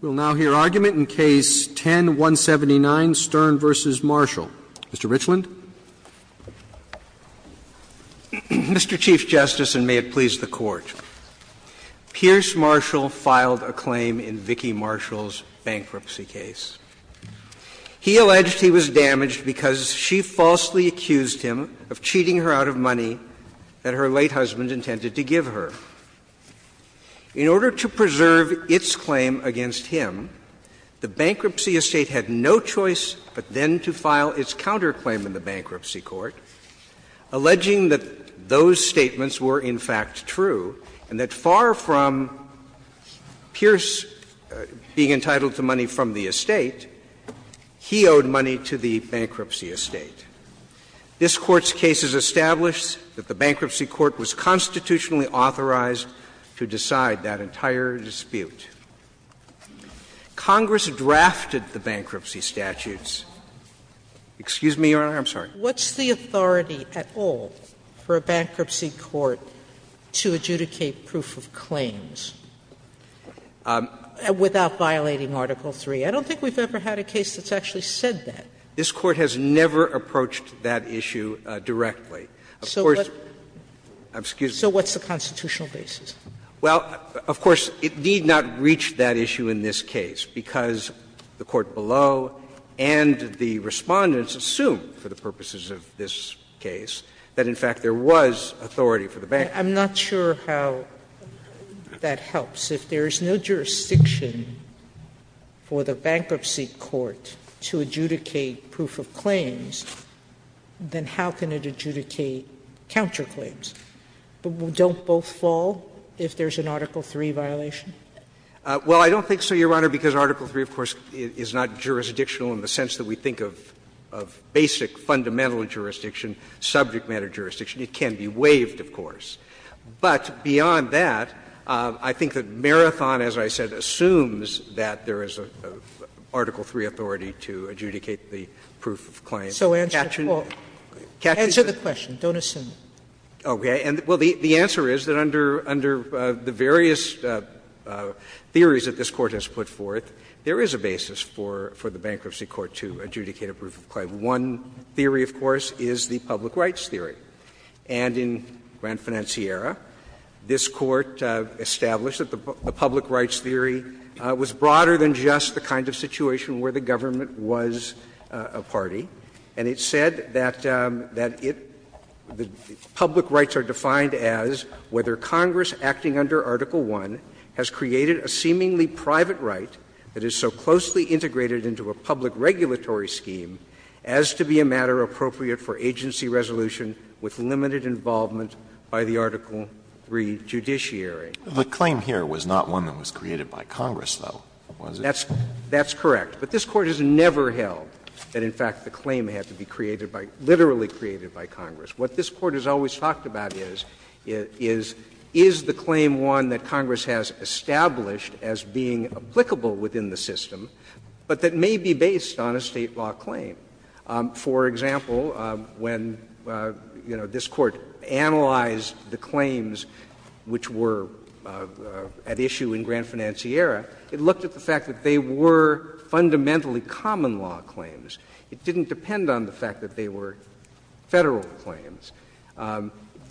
We'll now hear argument in Case 10-179, Stern v. Marshall. Mr. Richland. Mr. Chief Justice, and may it please the Court. Pierce Marshall filed a claim in Vicki Marshall's bankruptcy case. He alleged he was damaged because she falsely accused him of cheating her out of money that her late husband intended to give her. In order to preserve its claim against him, the bankruptcy estate had no choice but then to file its counterclaim in the bankruptcy court, alleging that those statements were in fact true, and that far from Pierce being entitled to money from the estate, he owed money to the bankruptcy estate. This Court's case has established that the bankruptcy court was constitutionally unauthorized to decide that entire dispute. Congress drafted the bankruptcy statutes. Excuse me, Your Honor, I'm sorry. Sotomayor What's the authority at all for a bankruptcy court to adjudicate proof of claims without violating Article III? I don't think we've ever had a case that's actually said that. This Court has never approached that issue directly. Of course, excuse me. So what's the constitutional basis? Well, of course, it did not reach that issue in this case, because the court below and the Respondents assumed for the purposes of this case that in fact there was authority for the bankruptcy. I'm not sure how that helps. If there is no jurisdiction for the bankruptcy court to adjudicate proof of claims, then how can it adjudicate counterclaims? Don't both fall if there's an Article III violation? Well, I don't think so, Your Honor, because Article III, of course, is not jurisdictional in the sense that we think of basic fundamental jurisdiction, subject matter jurisdiction. It can be waived, of course. But beyond that, I think that Marathon, as I said, assumes that there is an Article III authority to adjudicate the proof of claims. So answer the question, don't assume. Okay. And well, the answer is that under the various theories that this Court has put forth, there is a basis for the bankruptcy court to adjudicate a proof of claim. One theory, of course, is the public rights theory. And in Gran Financiera, this Court established that the public rights theory was broader than just the kind of situation where the government was a party, and it said that it the public rights are defined as whether Congress, acting under Article I, has created a seemingly private right that is so closely integrated into a public regulatory scheme as to be a matter appropriate for agency resolution with limited involvement by the Article III judiciary. The claim here was not one that was created by Congress, though, was it? That's correct. But this Court has never held that, in fact, the claim had to be created by — literally created by Congress. What this Court has always talked about is, is the claim one that Congress has established as being applicable within the system, but that may be based on a State law claim? For example, when, you know, this Court analyzed the claims which were at issue in Gran Financiera, they were fundamentally common law claims. It didn't depend on the fact that they were Federal claims.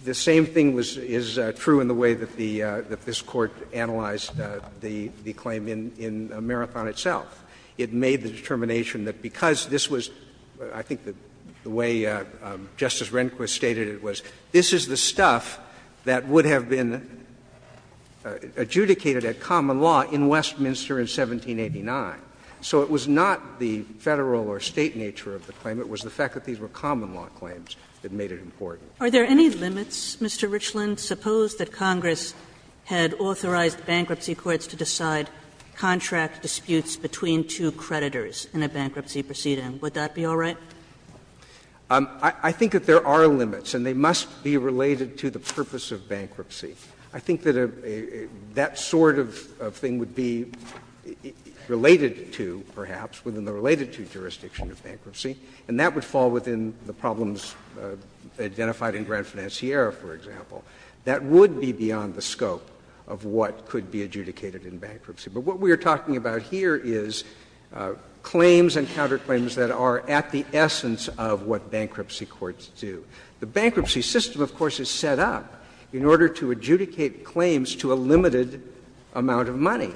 The same thing was — is true in the way that the — that this Court analyzed the claim in Marathon itself. It made the determination that because this was — I think the way Justice Rehnquist stated it was, this is the stuff that would have been adjudicated at common law in Westminster in 1789. So it was not the Federal or State nature of the claim. It was the fact that these were common law claims that made it important. Kagan Are there any limits, Mr. Richland? Suppose that Congress had authorized bankruptcy courts to decide contract disputes between two creditors in a bankruptcy proceeding. Would that be all right? I think that a — that sort of thing would be related to, perhaps, within the related to jurisdiction of bankruptcy, and that would fall within the problems identified in Gran Financiera, for example. That would be beyond the scope of what could be adjudicated in bankruptcy. But what we are talking about here is claims and counterclaims that are at the essence of what bankruptcy courts do. The bankruptcy system, of course, is set up in order to adjudicate claims to a limited amount of money.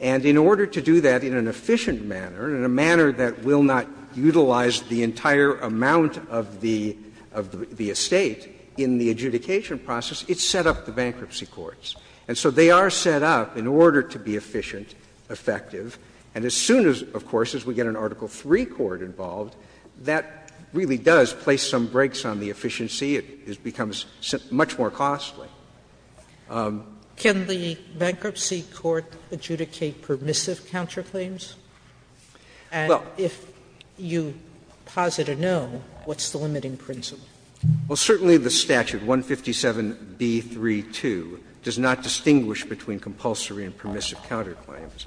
And in order to do that in an efficient manner, in a manner that will not utilize the entire amount of the — of the estate in the adjudication process, it's set up the bankruptcy courts. And so they are set up in order to be efficient, effective. And as soon as, of course, as we get an Article III court involved, that really does place some brakes on the efficiency. It becomes much more costly. Sotomayor Can the bankruptcy court adjudicate permissive counterclaims? And if you posit a no, what's the limiting principle? Well, certainly the statute, 157B.3.2, does not distinguish between compulsory and permissive counterclaims.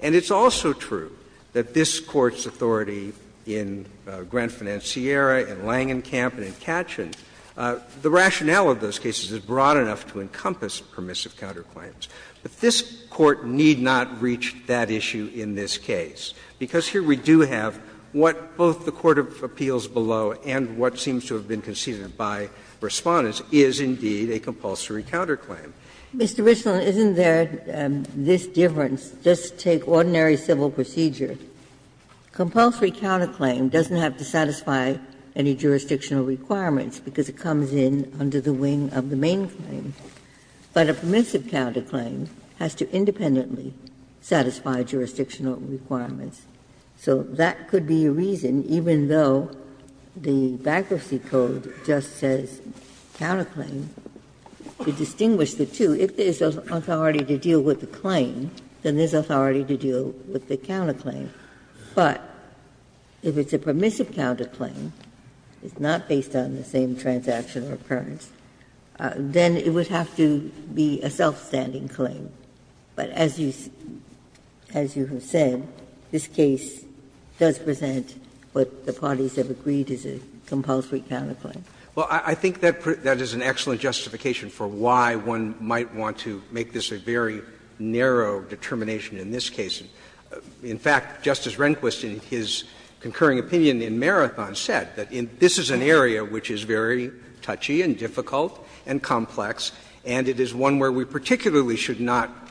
And it's also true that this Court's authority in Grand Financiera, in Langenkamp and in Katchen, the rationale of those cases is broad enough to encompass permissive counterclaims. But this Court need not reach that issue in this case, because here we do have what both the court of appeals below and what seems to have been conceded by Respondents is indeed a compulsory counterclaim. Ginsburg Mr. Richland, isn't there this difference? Just take ordinary civil procedure. Compulsory counterclaim doesn't have to satisfy any jurisdictional requirements because it comes in under the wing of the main claim. But a permissive counterclaim has to independently satisfy jurisdictional requirements. So that could be a reason, even though the bankruptcy code just says counterclaim, to distinguish the two. If there's authority to deal with the claim, then there's authority to deal with the counterclaim. But if it's a permissive counterclaim, it's not based on the same transaction or occurrence, then it would have to be a self-standing claim. But as you have said, this case does present what the parties have agreed is a compulsory counterclaim. Well, I think that is an excellent justification for why one might want to make this a very narrow determination in this case. In fact, Justice Rehnquist, in his concurring opinion in Marathon, said that this is an area which is very touchy and difficult and complex, and it is one where we particularly should not,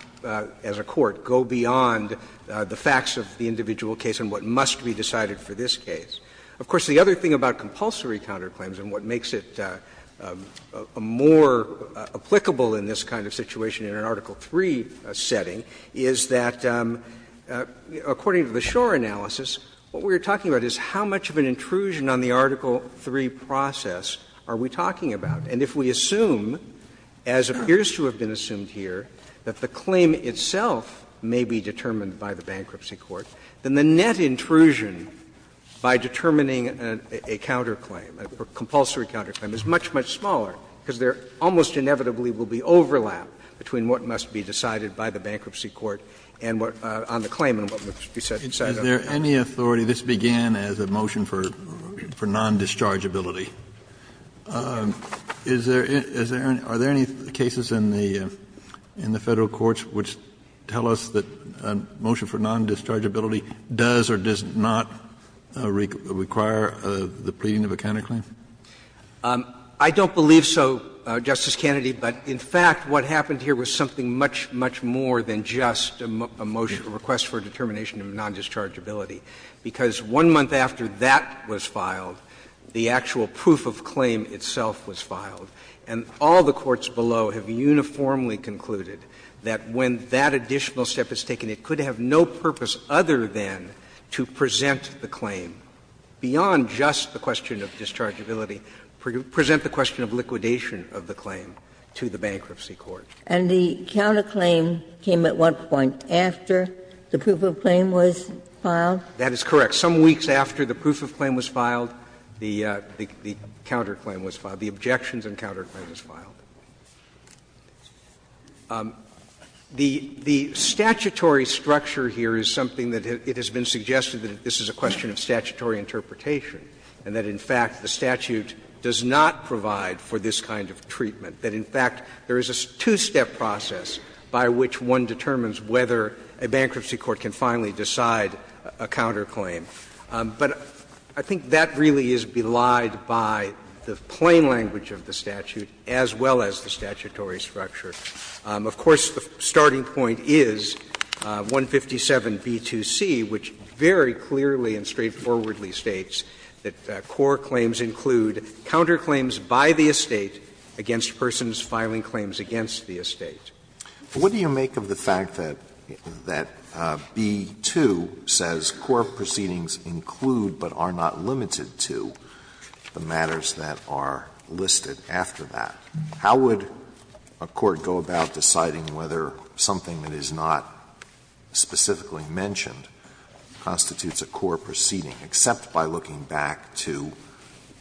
as a court, go beyond the facts of the individual case and what must be decided for this case. Of course, the other thing about compulsory counterclaims and what makes it more applicable in this kind of situation in an Article III setting is that, according to the Schor analysis, what we are talking about is how much of an intrusion on the Article III process are we talking about. And if we assume, as appears to have been assumed here, that the claim itself may be determined by the bankruptcy court, then the net intrusion by determining a counterclaim, a compulsory counterclaim, is much, much smaller, because there almost inevitably will be overlap between what must be decided by the bankruptcy court on the claim and what must be decided on the counterclaim. Kennedy, this began as a motion for non-dischargeability. Is there any cases in the Federal courts which tell us that a motion for non-dischargeability does or does not require the pleading of a counterclaim? I don't believe so, Justice Kennedy, but in fact what happened here was something much, much more than just a motion, a request for a determination of non-dischargeability, because one month after that was filed, the actual proof of claim itself was filed. And all the courts below have uniformly concluded that when that additional step is taken, it could have no purpose other than to present the claim, beyond just the question of dischargeability, present the question of liquidation of the claim to the bankruptcy court. And the counterclaim came at what point? After the proof of claim was filed? That is correct. Some weeks after the proof of claim was filed, the counterclaim was filed. The objections and counterclaim was filed. The statutory structure here is something that it has been suggested that this is a question of statutory interpretation, and that in fact the statute does not provide for this kind of treatment. That in fact there is a two-step process by which one determines whether a bankruptcy court can finally decide a counterclaim. But I think that really is belied by the plain language of the statute as well as the statutory structure. Of course, the starting point is 157b2c, which very clearly and straightforwardly states that core claims include counterclaims by the estate against persons filing claims against the estate. Alitoso, what do you make of the fact that B2 says core proceedings include, but are not limited to, the matters that are listed after that? How would a court go about deciding whether something that is not specifically mentioned constitutes a core proceeding, except by looking back to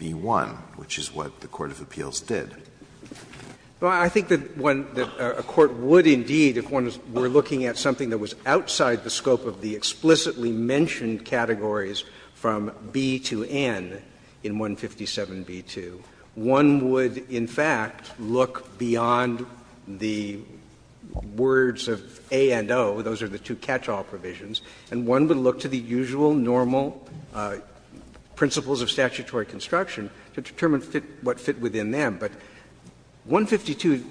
B1, which is what the court of appeals did? Well, I think that a court would indeed, if one were looking at something that was outside the scope of the explicitly mentioned categories from B to N in 157b2, one would in fact look beyond the words of A and O, those are the two catch-all provisions, and one would look to the usual, normal principles of statutory construction to determine what fit within them. But 152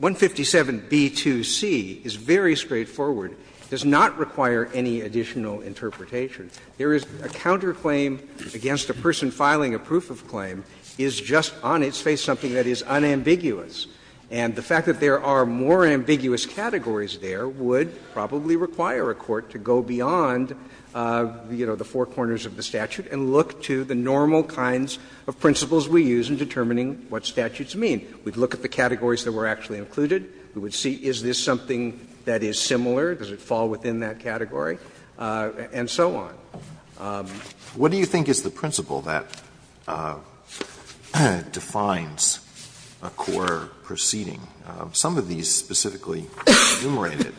157b2c is very straightforward, does not require any additional interpretation. There is a counterclaim against a person filing a proof of claim is just on its face something that is unambiguous, and the fact that there are more ambiguous categories there would probably require a court to go beyond, you know, the four corners of the statute and look to the normal kinds of principles we use in determining what statutes mean. We would look at the categories that were actually included. We would see is this something that is similar, does it fall within that category, and so on. Alitoso What do you think is the principle that defines a core proceeding? Some of these specifically enumerated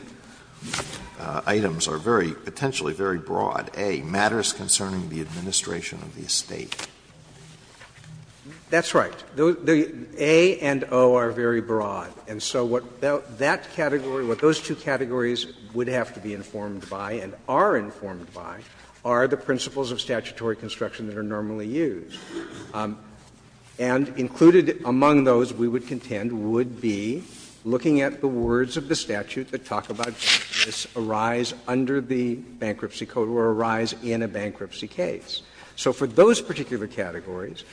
items are very, potentially very broad. A, matters concerning the administration of the estate. Verrilli, That's right. The A and O are very broad. And so what that category, what those two categories would have to be informed by and are informed by are the principles of statutory construction that are normally used and included among those we would contend would be looking at the words of the statute that talk about this arise under the Bankruptcy Code or arise in a bankruptcy case. So for those particular categories,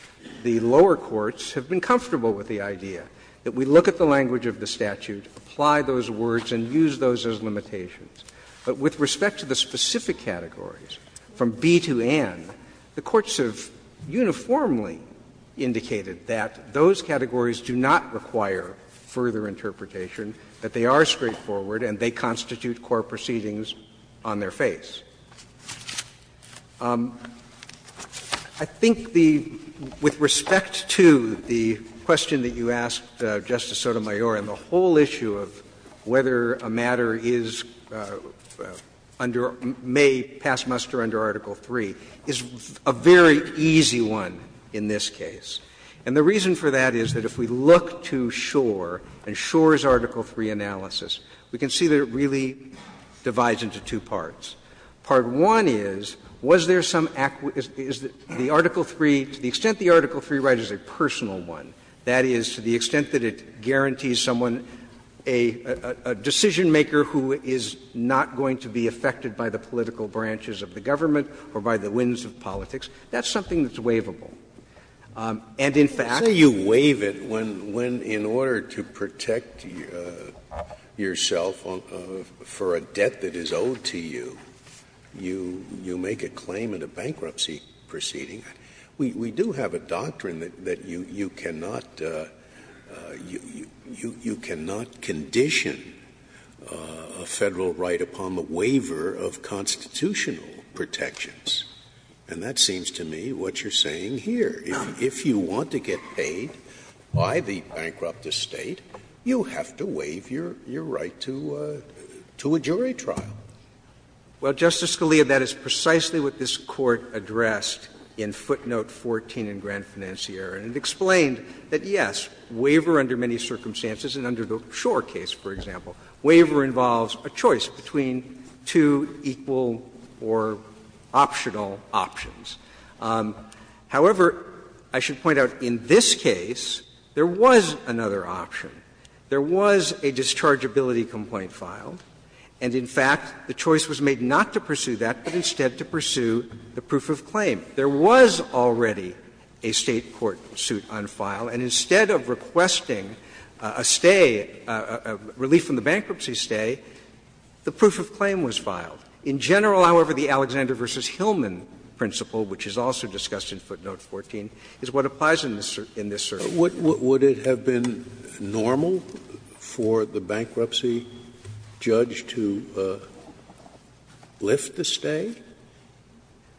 the lower courts have been comfortable with the idea that we look at the language of the statute, apply those words and use those as limitations. But with respect to the specific categories, from B to N, the courts have uniformly indicated that those categories do not require further interpretation, that they are straightforward and they constitute core proceedings on their face. I think the — with respect to the question that you asked, Justice Sotomayor, and the whole issue of whether a matter is under — may pass muster under Article III is a very easy one in this case. And the reason for that is that if we look to Schor and Schor's Article III analysis, we can see that it really divides into two parts. Part one is, was there some — is the Article III, to the extent the Article III right, is a personal one. That is, to the extent that it guarantees someone a decision-maker who is not going to be affected by the political branches of the government or by the winds of politics, that's something that's waivable. And in fact you waive it when, in order to protect yourself for a debt that is owed to you, you make a claim in a bankruptcy proceeding. We do have a doctrine that you cannot — you cannot condition a Federal right upon the waiver of constitutional protections. And that seems to me what you're saying here. If you want to get paid by the bankrupt estate, you have to waive your right to a jury trial. Well, Justice Scalia, that is precisely what this Court addressed in footnote 14 in Grand Financiera. And it explained that, yes, waiver under many circumstances, and under the Schor case, for example, waiver involves a choice between two equal or optional options. However, I should point out, in this case, there was another option. There was a dischargeability complaint filed. And in fact, the choice was made not to pursue that, but instead to pursue the proof of claim. There was already a State court suit on file, and instead of requesting a stay, a relief from the bankruptcy stay, the proof of claim was filed. In general, however, the Alexander v. Hillman principle, which is also discussed in footnote 14, is what applies in this — in this circuit. Scalia Would it have been normal for the bankruptcy judge to lift the stay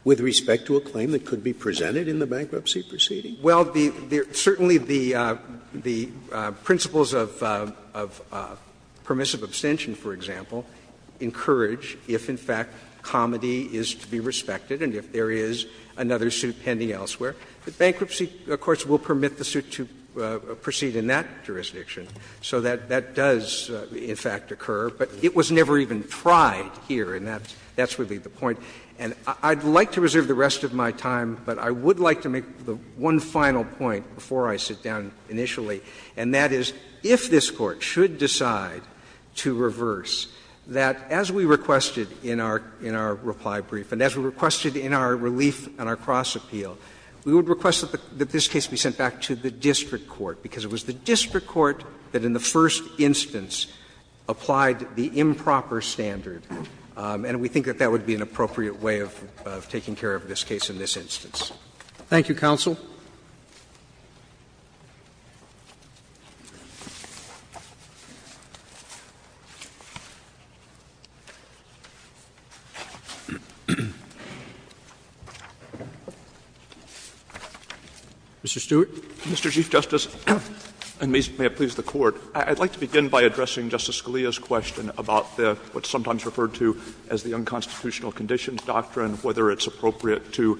with respect to a claim that could be presented in the bankruptcy proceeding? Well, certainly the principles of permissive abstention, for example, encourage if, in fact, comity is to be respected and if there is another suit pending elsewhere. The bankruptcy courts will permit the suit to proceed in that jurisdiction. So that does, in fact, occur. But it was never even tried here, and that's really the point. And I'd like to reserve the rest of my time, but I would like to make the one final point before I sit down initially, and that is, if this Court should decide to reverse, that as we requested in our — in our reply brief and as we requested in our relief and our cross-appeal, we would request that this case be sent back to the district court, because it was the district court that in the first instance applied the improper standard, and we think that that would be an appropriate way of taking care of this case in this instance. Thank you, counsel. Mr. Stewart. Mr. Chief Justice, and may it please the Court, I'd like to begin by addressing Justice Scalia's question about the — what's sometimes referred to as the unconstitutional conditions doctrine, whether it's appropriate to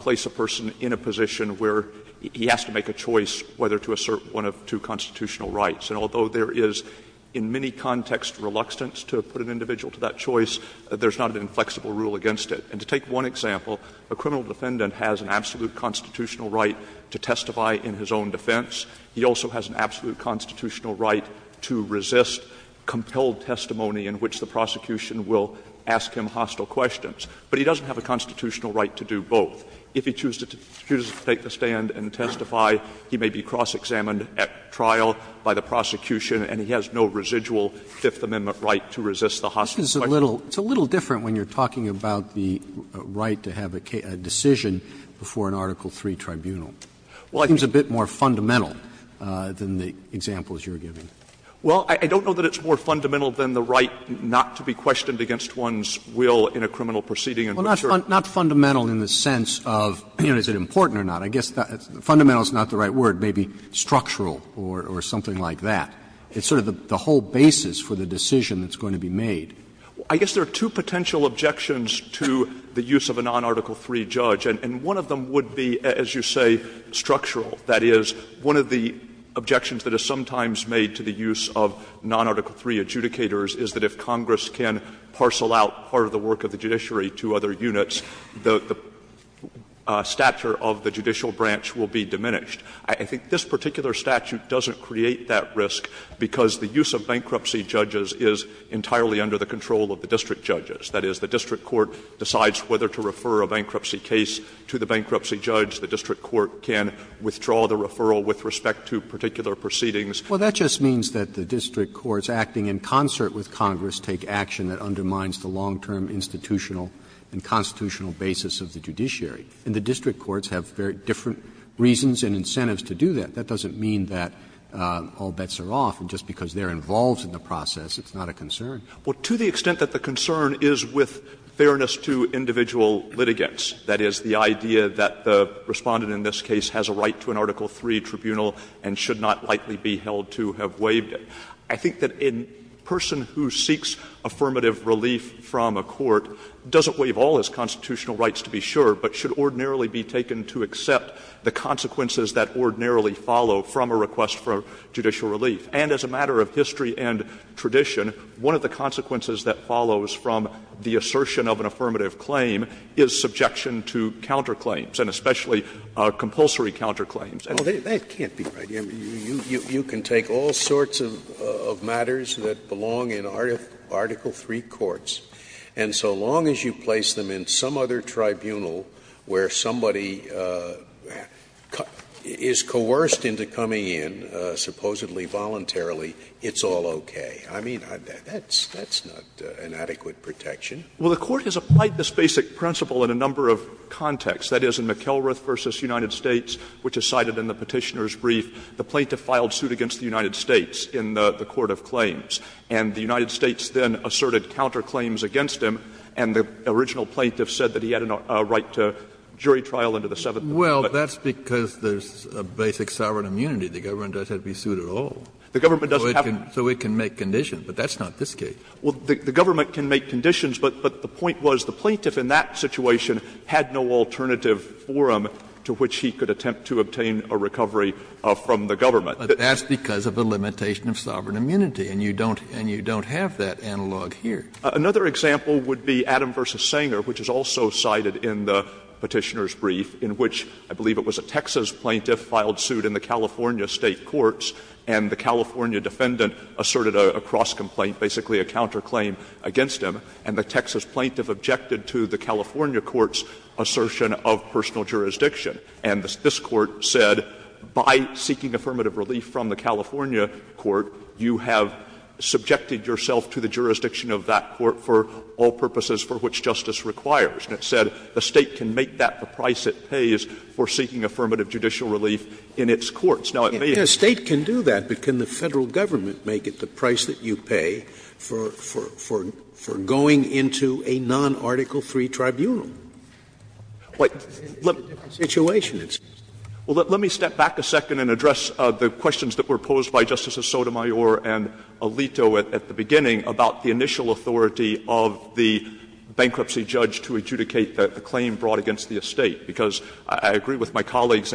place a person in a position where he has to make a choice whether to assert one of two constitutional rights. And although there is in many contexts reluctance to put an individual to that choice, there's not an inflexible rule against it. And to take one example, a criminal defendant has an absolute constitutional right to testify in his own defense. He also has an absolute constitutional right to resist compelled testimony in which the prosecution will ask him hostile questions. But he doesn't have a constitutional right to do both. If he chooses to take the stand and testify, he may be cross-examined at trial by the prosecution, and he has no residual Fifth Amendment right to resist the hostile question. Roberts. It's a little different when you're talking about the right to have a decision before an Article III tribunal. Well, I think it's a bit more fundamental than the examples you're giving. Well, I don't know that it's more fundamental than the right not to be questioned against one's will in a criminal proceeding in which you're. Well, not fundamental in the sense of, you know, is it important or not. I guess fundamental is not the right word. Maybe structural or something like that. It's sort of the whole basis for the decision that's going to be made. I guess there are two potential objections to the use of a non-Article III judge, and one of them would be, as you say, structural. That is, one of the objections that is sometimes made to the use of non-Article III adjudicators is that if Congress can parcel out part of the work of the judiciary to other units, the stature of the judicial branch will be diminished. I think this particular statute doesn't create that risk because the use of bankruptcy judges is entirely under the control of the district judges. That is, the district court decides whether to refer a bankruptcy case to the bankruptcy judge, the district court can withdraw the referral with respect to particular proceedings. Roberts' Well, that just means that the district courts acting in concert with Congress take action that undermines the long-term institutional and constitutional basis of the judiciary. And the district courts have very different reasons and incentives to do that. That doesn't mean that all bets are off, and just because they're involved in the process, it's not a concern. Well, to the extent that the concern is with fairness to individual litigants, that is, the idea that the Respondent in this case has a right to an Article III tribunal and should not likely be held to have waived it, I think that a person who seeks affirmative relief from a court doesn't waive all his constitutional rights, to be sure, but should ordinarily be taken to accept the consequences that ordinarily follow from a request for judicial relief. And as a matter of history and tradition, one of the consequences that follows from the assertion of an affirmative claim is subjection to counterclaims, and especially compulsory counterclaims. Scalia, that can't be right. I mean, you can take all sorts of matters that belong in Article III courts, and so long as you place them in some other tribunal where somebody is coerced into coming in, supposedly voluntarily, it's all okay. I mean, that's not an adequate protection. Well, the Court has applied this basic principle in a number of contexts. That is, in McElrath v. United States, which is cited in the Petitioner's brief, the plaintiff filed suit against the United States in the court of claims, and the United States then asserted counterclaims against him, and the original plaintiff said that he had a right to jury trial under the Seventh Amendment. Well, that's because there's a basic sovereign immunity. The government doesn't have to be sued at all. So it can make conditions, but that's not this case. Well, the government can make conditions, but the point was the plaintiff in that situation had no alternative forum to which he could attempt to obtain a recovery from the government. But that's because of a limitation of sovereign immunity, and you don't have that analog here. Another example would be Adam v. Sanger, which is also cited in the Petitioner's brief, in which I believe it was a Texas plaintiff filed suit in the California State courts, and the California defendant asserted a cross complaint, basically a counterclaim against him, and the Texas plaintiff objected to the California court's assertion of personal jurisdiction. And this Court said, by seeking affirmative relief from the California court, you have subjected yourself to the jurisdiction of that court for all purposes for which justice requires. And it said the State can make that the price it pays for seeking affirmative judicial relief in its courts. Now, it may have been the State can do that, but can the Federal government make it the price that you pay for going into a non-Article III tribunal? It's a different situation. Well, let me step back a second and address the questions that were posed by Justices Sotomayor and Alito at the beginning about the initial authority of the bankruptcy judge to adjudicate the claim brought against the State, because I agree with my colleague's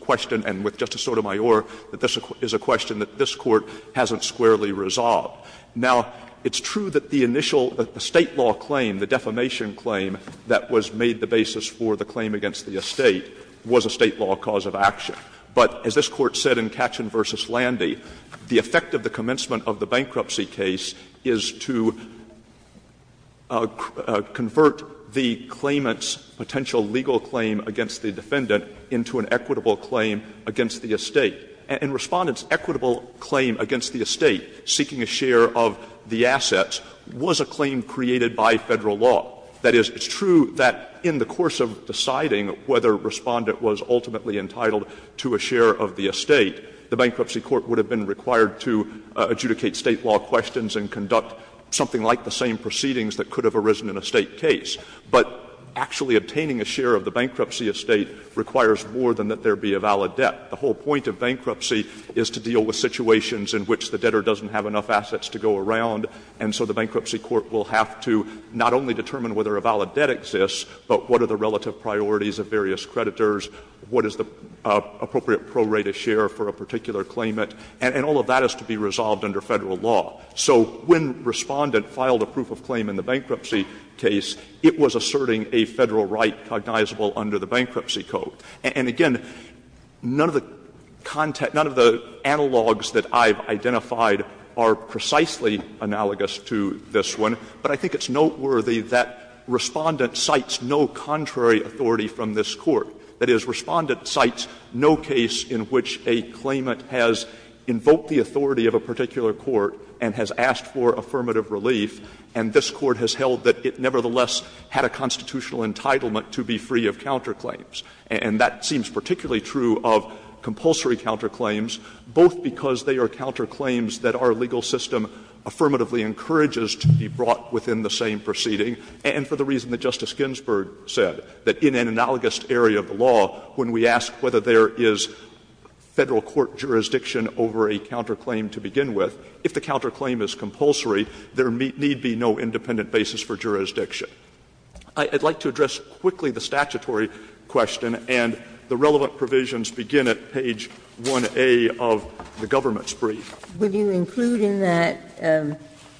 question and with Justice Sotomayor that this is a question that this Court hasn't squarely resolved. Now, it's true that the initial State law claim, the defamation claim that was made the basis for the claim against the Estate was a State law cause of action. But as this Court said in Katchen v. Landy, the effect of the commencement of the bankruptcy case is to convert the claimant's potential legal claim against the defendant into an equitable claim against the Estate. And Respondent's equitable claim against the Estate, seeking a share of the assets, was a claim created by Federal law. That is, it's true that in the course of deciding whether Respondent was ultimately entitled to a share of the Estate, the bankruptcy court would have been required to adjudicate State law questions and conduct something like the same proceedings that could have arisen in a State case. But actually obtaining a share of the bankruptcy Estate requires more than that there be a valid debt. The whole point of bankruptcy is to deal with situations in which the debtor doesn't have enough assets to go around, and so the bankruptcy court will have to not only determine whether a valid debt exists, but what are the relative priorities of various creditors, what is the appropriate pro-rate of share for a particular claimant, and all of that has to be resolved under Federal law. So when Respondent filed a proof of claim in the bankruptcy case, it was asserting a Federal right cognizable under the bankruptcy code. And again, none of the analogs that I've identified are precisely analogous to this one, but I think it's noteworthy that Respondent cites no contrary authority from this Court. That is, Respondent cites no case in which a claimant has invoked the authority of a particular court and has asked for affirmative relief, and this Court has held that it nevertheless had a constitutional entitlement to be free of counterclaims. And that seems particularly true of compulsory counterclaims, both because they are counterclaims that our legal system affirmatively encourages to be brought within the same proceeding, and for the reason that Justice Ginsburg said, that in an analogous area of the law, when we ask whether there is Federal court jurisdiction over a counterclaim to begin with, if the counterclaim is compulsory, there need be no independent basis for jurisdiction. I'd like to address quickly the statutory question, and the relevant provisions begin at page 1A of the government's brief. Ginsburg. Would you include in that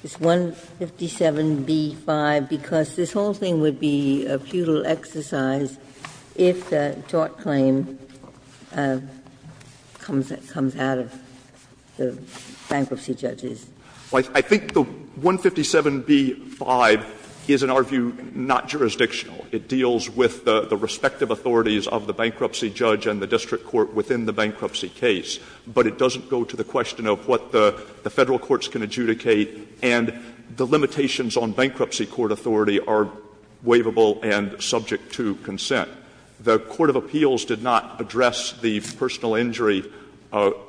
this 157b-5, because this whole thing would be a futile exercise if the tort claim comes out of the bankruptcy judges? I think the 157b-5 is, in our view, not jurisdictional. It deals with the respective authorities of the bankruptcy judge and the district court within the bankruptcy case, but it doesn't go to the question of what the Federal courts can adjudicate, and the limitations on bankruptcy court authority are waivable and subject to consent. The court of appeals did not address the personal injury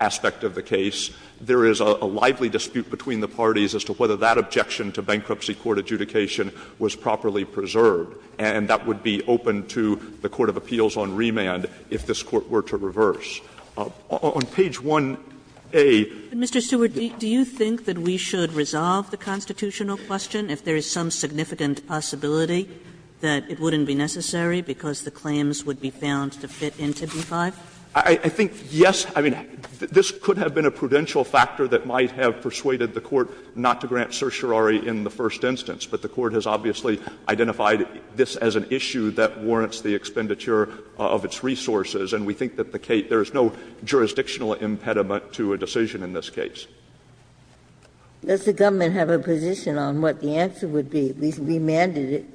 aspect of the case. There is a lively dispute between the parties as to whether that objection to bankruptcy court adjudication was properly preserved, and that would be open to the court of appeals on remand if this Court were to reverse. On page 1A. Kagan. Mr. Stewart, do you think that we should resolve the constitutional question if there is some significant possibility that it wouldn't be necessary because the claims would be found to fit into b-5? I think, yes, I mean, this could have been a prudential factor that might have persuaded the court not to grant certiorari in the first instance, but the court has obviously identified this as an issue that warrants the expenditure of its resources, and we think that there is no jurisdictional impediment to a decision in this case. Does the government have a position on what the answer would be, at least remanded it,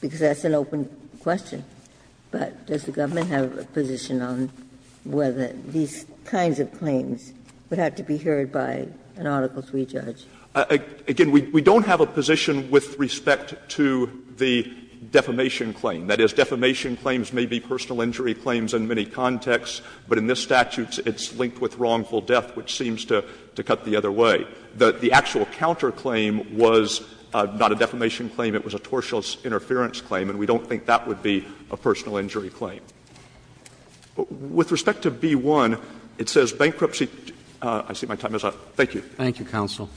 because that's an open question, but does the government have a position on whether these kinds of claims would have to be heard by an article 3 judge? Again, we don't have a position with respect to the defamation claim. That is, defamation claims may be personal injury claims in many contexts, but in this case it was a personal death which seems to cut the other way. The actual counterclaim was not a defamation claim, it was a tortious interference claim, and we don't think that would be a personal injury claim. With respect to b-1, it says bankruptcy — I see my time is up. Thank you. Thank you, counsel.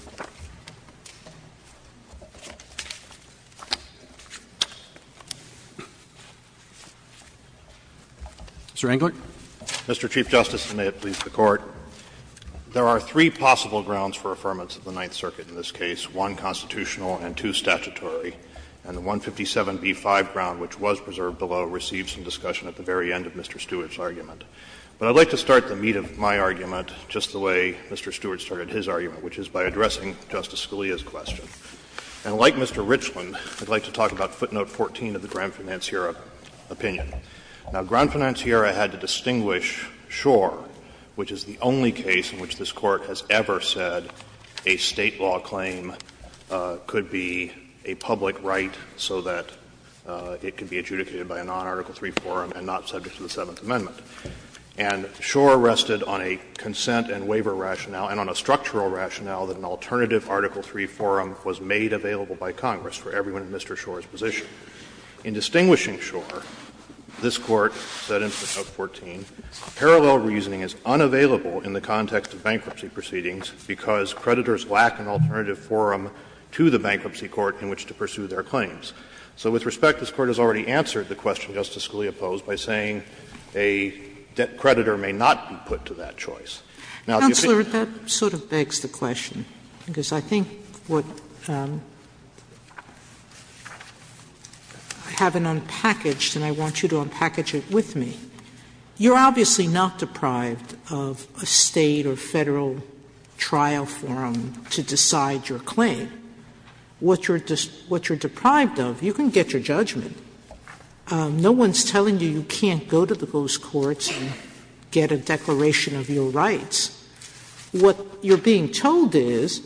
Mr. Englert. Mr. Chief Justice, and may it please the Court. There are three possible grounds for affirmance of the Ninth Circuit in this case, one constitutional and two statutory. And the 157b-5 ground, which was preserved below, received some discussion at the very end of Mr. Stewart's argument. But I would like to start the meat of my argument just the way Mr. Stewart started his argument, which is by addressing Justice Scalia's question. And like Mr. Richland, I would like to talk about footnote 14 of the Granfinanciera opinion. Now, Granfinanciera had to distinguish Schor, which is the only case in which this Court has ever said a State law claim could be a public right so that it could be adjudicated by a non-Article III forum and not subject to the Seventh Amendment. And Schor rested on a consent and waiver rationale and on a structural rationale that an alternative Article III forum was made available by Congress for everyone in Mr. Schor's position. In distinguishing Schor, this Court said in footnote 14, parallel reasoning is unavailable in the context of bankruptcy proceedings because creditors lack an alternative forum to the bankruptcy court in which to pursue their claims. So with respect, this Court has already answered the question Justice Scalia posed by saying a debt creditor may not be put to that choice. Now, if you think that's the case, I would like to ask Justice Scalia's question. I have it unpackaged, and I want you to unpackage it with me. You're obviously not deprived of a State or Federal trial forum to decide your claim. What you're deprived of, you can get your judgment. No one's telling you you can't go to the ghost courts and get a declaration of your rights. What you're being told is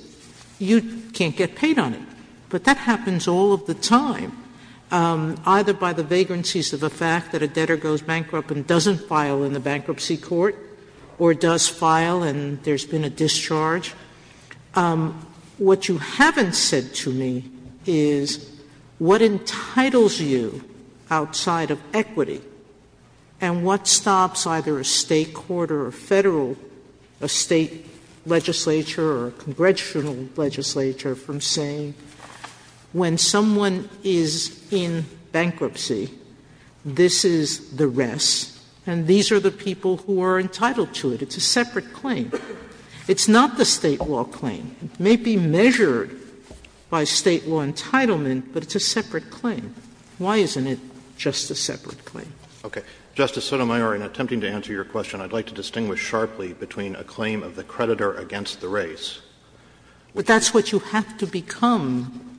you can't get paid on it. But that happens all of the time, either by the vagrancies of the fact that a debtor goes bankrupt and doesn't file in the bankruptcy court, or does file and there's been a discharge. What you haven't said to me is what entitles you outside of equity, and what stops either a State court or a Federal, a State legislature or a congressional legislature from saying when someone is in bankruptcy, this is the rest, and these are the people who are entitled to it. It's a separate claim. It's not the State law claim. It may be measured by State law entitlement, but it's a separate claim. Why isn't it just a separate claim? Roberts. Justice Sotomayor, in attempting to answer your question, I'd like to distinguish sharply between a claim of the creditor against the race. But that's what you have to become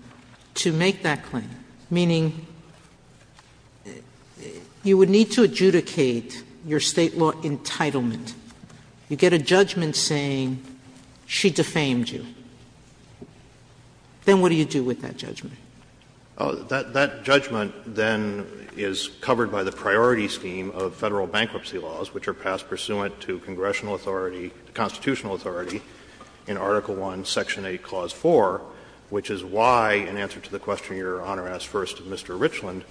to make that claim, meaning you would need to adjudicate your State law entitlement. You get a judgment saying she defamed you. Then what do you do with that judgment? That judgment then is covered by the priority scheme of Federal bankruptcy laws, which are passed pursuant to congressional authority, constitutional authority in Article I, Section 8, Clause 4, which is why, in answer to the question Your Honor asked first of Mr. Richland,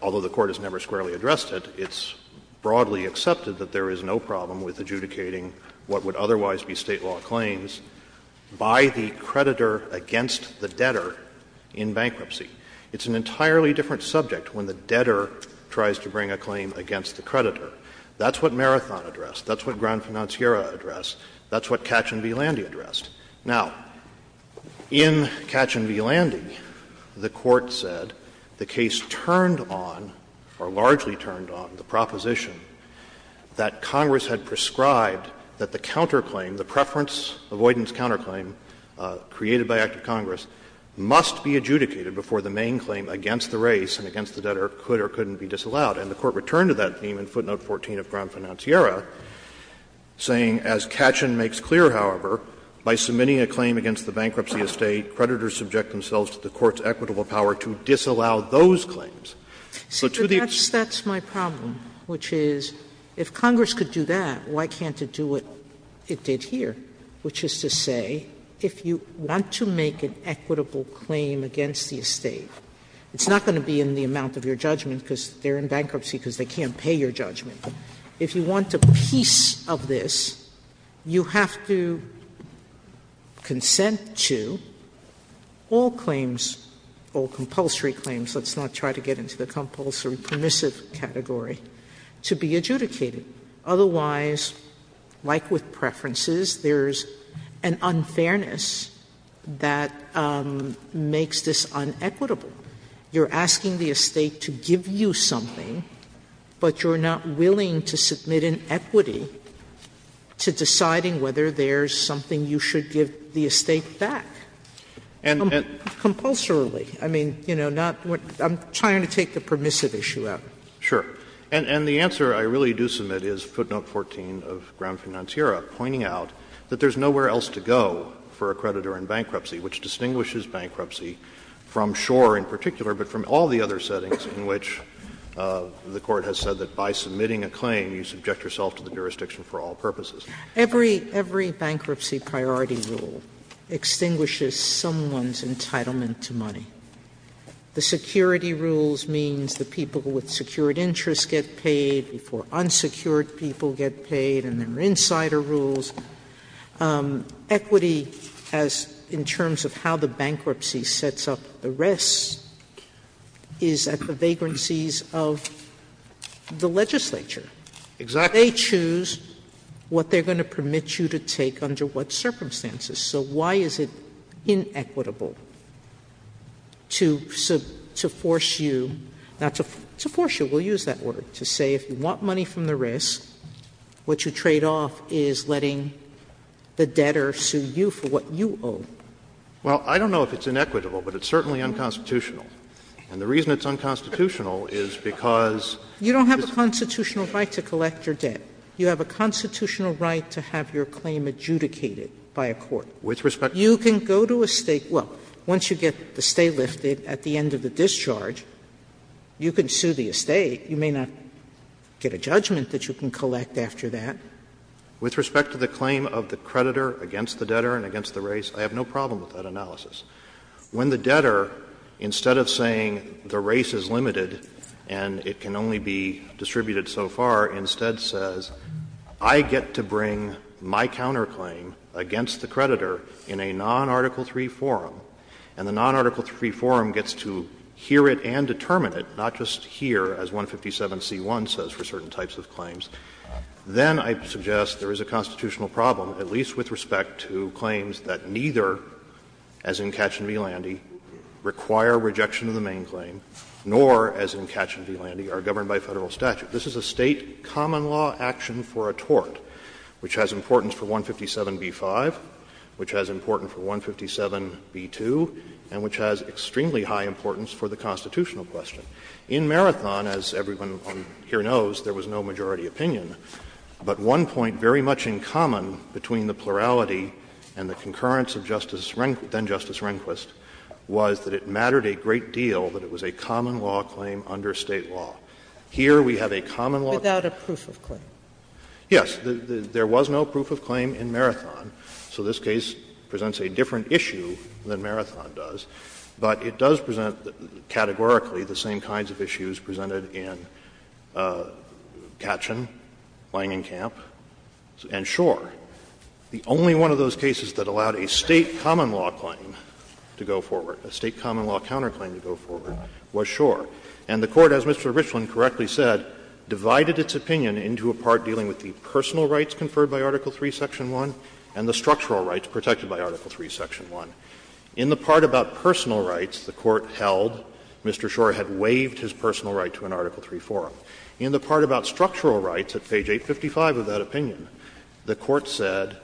although the Court has never squarely addressed it, it's broadly accepted that there is no problem with adjudicating what would otherwise be State law claims by the creditor against the debtor in bankruptcy. It's an entirely different subject when the debtor tries to bring a claim against the creditor. That's what Marathon addressed. That's what Grand Financiera addressed. That's what Katchen v. Landy addressed. Now, in Katchen v. Landy, the Court said the case turned on, or largely turned on, the proposition that Congress had prescribed that the counterclaim, the preference avoidance counterclaim created by Act of Congress, must be adjudicated before the main claim against the race and against the debtor could or couldn't be disallowed. And the Court returned to that theme in footnote 14 of Grand Financiera, saying, as Katchen makes clear, however, by submitting a claim against the bankruptcy estate, creditors subject themselves to the Court's equitable power to disallow those claims. So to the extent that the State could do that, why can't it do what it did here? Which is to say, if you want to make an equitable claim against the estate, it's not going to be in the amount of your judgment because they're in bankruptcy because they can't pay your judgment. If you want a piece of this, you have to consent to all claims, all compulsory claims, let's not try to get into the compulsory permissive category, to be adjudicated. Otherwise, like with preferences, there's an unfairness that makes this unequitable. You're asking the estate to give you something, but you're not willing to submit an equity to deciding whether there's something you should give the estate back. Compulsorily. I mean, you know, not what — I'm trying to take the permissive issue out. Sure. And the answer I really do submit is footnote 14 of Ground Financiera, pointing out that there's nowhere else to go for a creditor in bankruptcy, which distinguishes bankruptcy from Shore in particular, but from all the other settings in which the Court has said that by submitting a claim, you subject yourself to the jurisdiction for all purposes. Sotomayor. The security rules means the people with secured interests get paid before unsecured people get paid, and there are insider rules. Equity, as in terms of how the bankruptcy sets up the rest, is at the vagrancies of the legislature. Exactly. They choose what they're going to permit you to take under what circumstances. So why is it inequitable? To force you — now, to force you, we'll use that word, to say if you want money from the risk, what you trade off is letting the debtor sue you for what you owe. Well, I don't know if it's inequitable, but it's certainly unconstitutional. And the reason it's unconstitutional is because it's the same thing. You don't have a constitutional right to collect your debt. You have a constitutional right to have your claim adjudicated by a court. With respect to the court. You can go to a State — well, once you get the stay lifted at the end of the discharge, you can sue the Estate. You may not get a judgment that you can collect after that. With respect to the claim of the creditor against the debtor and against the race, I have no problem with that analysis. When the debtor, instead of saying the race is limited and it can only be distributed so far, instead says, I get to bring my counterclaim against the creditor in a non-Article III forum, and the non-Article III forum gets to hear it and determine it, not just hear, as 157c1 says for certain types of claims, then I suggest there is a constitutional problem, at least with respect to claims that neither, as in Katchen v. Landy, require rejection of the main claim, nor, as in Katchen v. Landy, are governed by Federal statute. This is a State common law action for a tort, which has importance for 157b5, which has importance for 157b2, and which has extremely high importance for the constitutional question. In Marathon, as everyone here knows, there was no majority opinion, but one point very much in common between the plurality and the concurrence of Justice — then-Justice Rehnquist was that it mattered a great deal that it was a common law claim under State law. Here, we have a common law claim. Sotomayor, without a proof of claim. Yes. There was no proof of claim in Marathon, so this case presents a different issue than Marathon does, but it does present, categorically, the same kinds of issues presented in Katchen, Langenkamp, and Schor. The only one of those cases that allowed a State common law claim to go forward, a State common law counterclaim to go forward, was Schor. And the Court, as Mr. Richland correctly said, divided its opinion into a part dealing with the personal rights conferred by Article III, Section 1, and the structural rights protected by Article III, Section 1. In the part about personal rights, the Court held Mr. Schor had waived his personal right to an Article III forum. In the part about structural rights at page 855 of that opinion, the Court said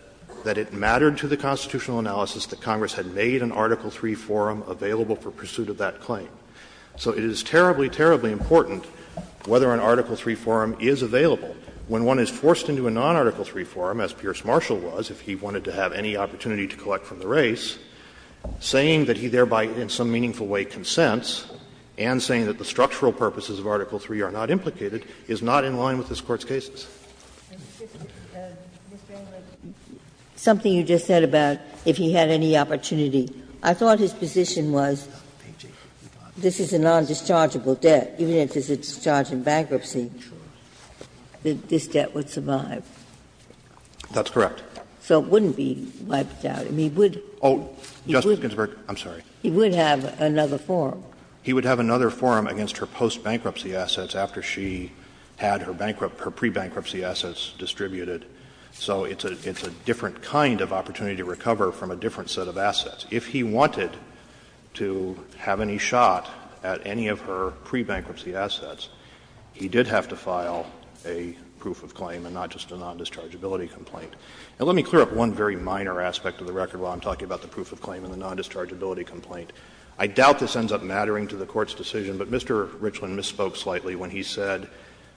that it mattered to the constitutional analysis that Congress had made an Article III forum available for pursuit of that claim. So it is terribly, terribly important whether an Article III forum is available when one is forced into a non-Article III forum, as Pierce Marshall was, if he wanted to have any opportunity to collect from the race, saying that he thereby in some meaningful way consents, and saying that the structural purposes of Article III are not implicated, is not in line with this Court's cases. Ginsburg. Something you just said about if he had any opportunity. I thought his position was. This is a non-dischargeable debt. Even if it's a discharge in bankruptcy, this debt would survive. That's correct. So it wouldn't be wiped out. I mean, he would have another forum. He would have another forum against her post-bankruptcy assets after she had her pre-bankruptcy assets distributed. So it's a different kind of opportunity to recover from a different set of assets. If he wanted to have any shot at any of her pre-bankruptcy assets, he did have to file a proof of claim and not just a non-dischargeability complaint. Now, let me clear up one very minor aspect of the record while I'm talking about the proof of claim and the non-dischargeability complaint. I doubt this ends up mattering to the Court's decision, but Mr. Richland misspoke slightly when he said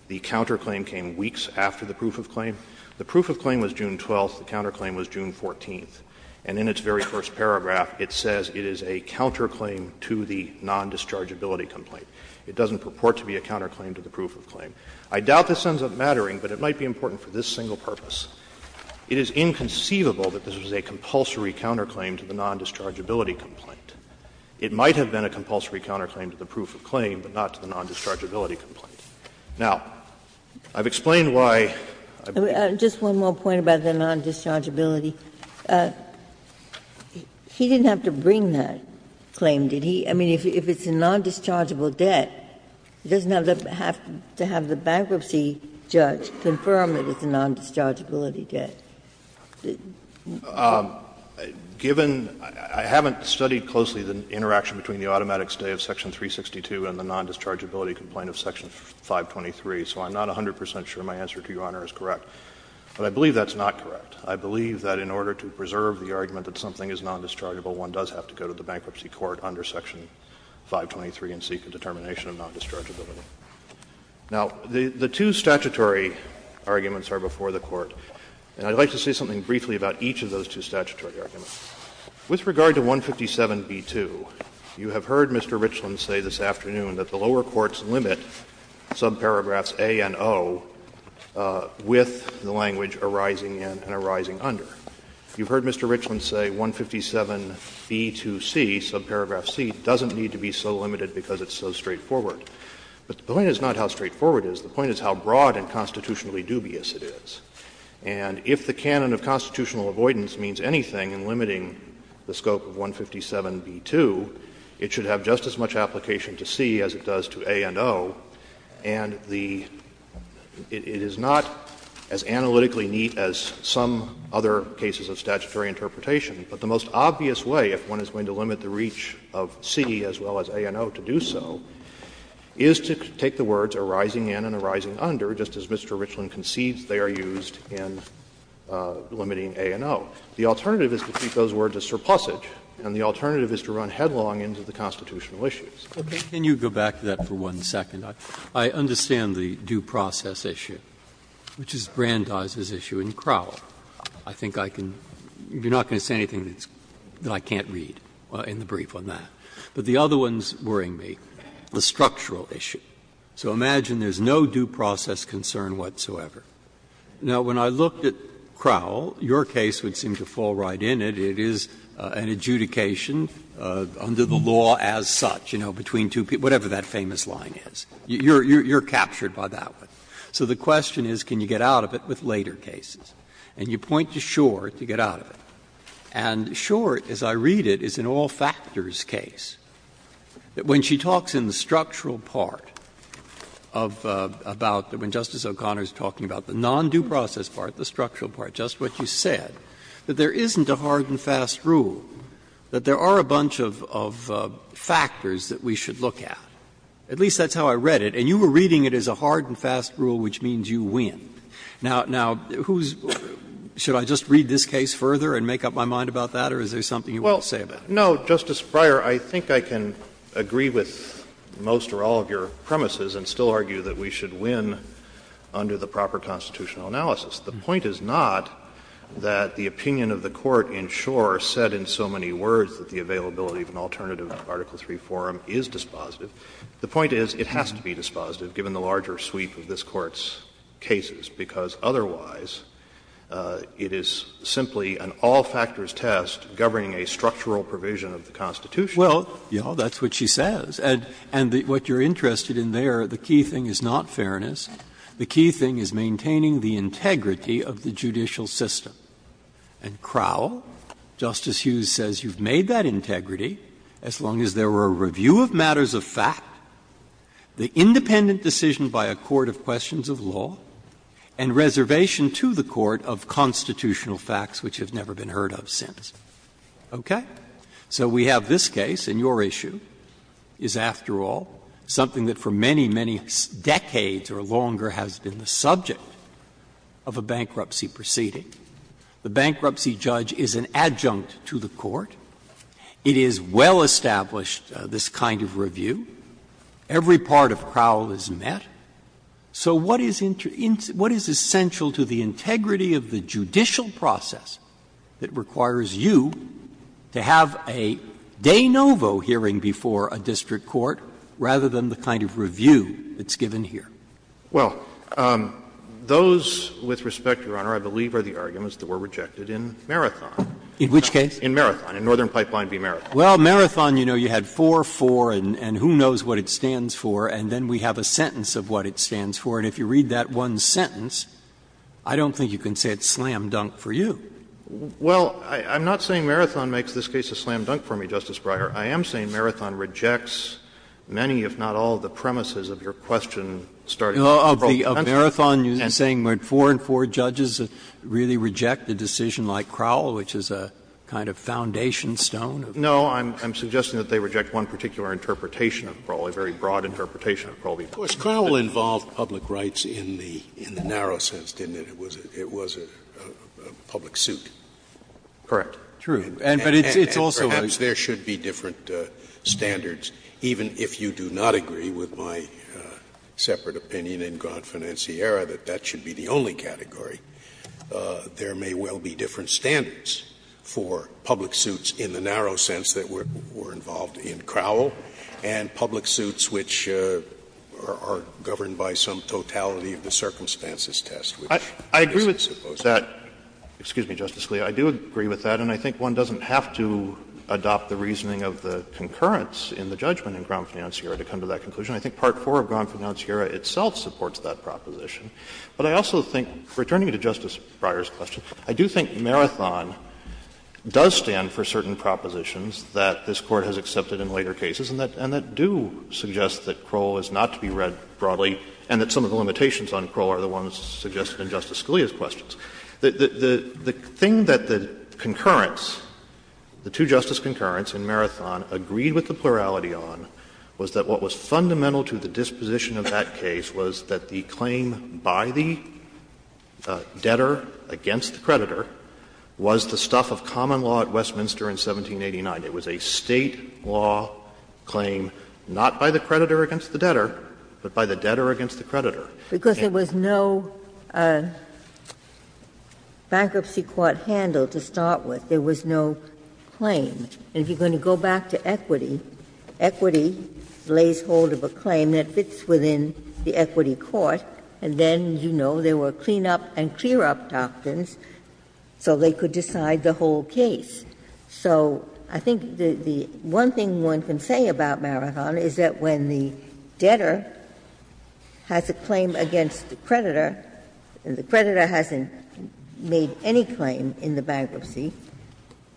the counterclaim came weeks after the proof of claim. The proof of claim was June 12th. The counterclaim was June 14th. And in its very first paragraph, it says it is a counterclaim to the non-dischargeability complaint. It doesn't purport to be a counterclaim to the proof of claim. I doubt this ends up mattering, but it might be important for this single purpose. It is inconceivable that this was a compulsory counterclaim to the non-dischargeability complaint. It might have been a compulsory counterclaim to the proof of claim, but not to the non-dischargeability complaint. Now, I've explained why I've been here. Ginsburg-Miller Just one more point about the non-dischargeability. He didn't have to bring that claim, did he? I mean, if it's a non-dischargeable debt, it doesn't have to have the bankruptcy judge confirm that it's a non-dischargeability debt. Goldstein, I haven't studied closely the interaction between the automatic stay of section 362 and the non-dischargeability complaint of section 523, so I'm not 100 percent sure my answer to Your Honor is correct. But I believe that's not correct. I believe that in order to preserve the argument that something is non-dischargeable, one does have to go to the bankruptcy court under section 523 and seek a determination of non-dischargeability. Now, the two statutory arguments are before the Court, and I'd like to say something briefly about each of those two statutory arguments. With regard to 157b2, you have heard Mr. Richland say this afternoon that the lower You have heard Mr. Richland say, 157b2c, subparagraph c, doesn't need to be so limited because it's so straightforward. But the point is not how straightforward it is. The point is how broad and constitutionally dubious it is. And if the canon of constitutional avoidance means anything in limiting the scope of 157b2, it should have just as much application to c as it does to a and o. And the — it is not as analytically neat as some other cases of statutory interpretation. But the most obvious way, if one is going to limit the reach of c as well as a and o to do so, is to take the words arising in and arising under, just as Mr. Richland concedes they are used in limiting a and o. The alternative is to keep those words as surplusage, and the alternative is to run headlong into the constitutional issues. Breyer. Can you go back to that for one second? I understand the due process issue, which is Brandeis' issue in Crowell. I think I can — you are not going to say anything that I can't read in the brief on that. But the other one is worrying me, the structural issue. So imagine there is no due process concern whatsoever. Now, when I looked at Crowell, your case would seem to fall right in it. It is an adjudication under the law as such. Between two people, whatever that famous line is, you are captured by that one. So the question is, can you get out of it with later cases? And you point to Schor to get out of it. And Schor, as I read it, is an all-factors case. When she talks in the structural part of — about when Justice O'Connor is talking about the non-due process part, the structural part, just what you said, that there is a hard and fast rule which means you win. Now, who's — should I just read this case further and make up my mind about that, or is there something you want to say about it? Well, no, Justice Breyer, I think I can agree with most or all of your premises and still argue that we should win under the proper constitutional analysis. The point is not that the opinion of the Court in Schor said in so many words that the availability of an alternative to Article III forum is dispositive. The point is it has to be dispositive, given the larger sweep of this Court's cases, because otherwise it is simply an all-factors test governing a structural provision of the Constitution. Well, yes, that's what she says. And what you are interested in there, the key thing is not fairness. The key thing is maintaining the integrity of the judicial system. And Crowell, Justice Hughes, says you've made that integrity as long as there were a review of matters of fact, the independent decision by a court of questions of law, and reservation to the court of constitutional facts which have never been heard of since. Okay? So we have this case, and your issue is, after all, something that for many, many decades or longer has been the subject of a bankruptcy proceeding. The bankruptcy judge is an adjunct to the court. It is well established, this kind of review. Every part of Crowell is met. So what is essential to the integrity of the judicial process that requires you to have a de novo hearing before a district court rather than the kind of review that's given here? Well, those, with respect, Your Honor, I believe are the arguments that were rejected in Marathon. In which case? In Marathon, in Northern Pipeline v. Marathon. Well, Marathon, you know, you had 4-4 and who knows what it stands for, and then we have a sentence of what it stands for. And if you read that one sentence, I don't think you can say it's slam dunk for you. Well, I'm not saying Marathon makes this case a slam dunk for me, Justice Breyer. I am saying Marathon rejects many, if not all, of the premises of your question starting with the parole pension. Of Marathon, you're saying that 4-4 judges really reject a decision like Crowell, which is a kind of foundation stone? No, I'm suggesting that they reject one particular interpretation of Crowell, a very broad interpretation of Crowell. Of course, Crowell involved public rights in the narrow sense, didn't it? It was a public suit. Correct. True. And but it's also a justice. Sometimes there should be different standards, even if you do not agree with my separate opinion in Grant Financiera that that should be the only category. There may well be different standards for public suits in the narrow sense that were involved in Crowell, and public suits which are governed by some totality of the circumstances test, which isn't supposed to be. I agree with that. Excuse me, Justice Scalia. I do agree with that, and I think one doesn't have to adopt the reasoning of the concurrence in the judgment in Grant Financiera to come to that conclusion. I think part 4 of Grant Financiera itself supports that proposition. But I also think, returning to Justice Breyer's question, I do think Marathon does stand for certain propositions that this Court has accepted in later cases and that do suggest that Crowell is not to be read broadly and that some of the limitations on Crowell are the ones suggested in Justice Scalia's questions. The thing that the concurrence, the two-justice concurrence in Marathon agreed with the plurality on was that what was fundamental to the disposition of that case was that the claim by the debtor against the creditor was the stuff of common law at Westminster in 1789. It was a State law claim, not by the creditor against the debtor, but by the debtor against the creditor. Ginsburg. Because there was no bankruptcy court handle to start with. There was no claim. And if you're going to go back to equity, equity lays hold of a claim that fits within the equity court, and then, you know, there were clean-up and clear-up doctrines so they could decide the whole case. So I think the one thing one can say about Marathon is that when the debtor has a claim against the creditor, and the creditor hasn't made any claim in the bankruptcy,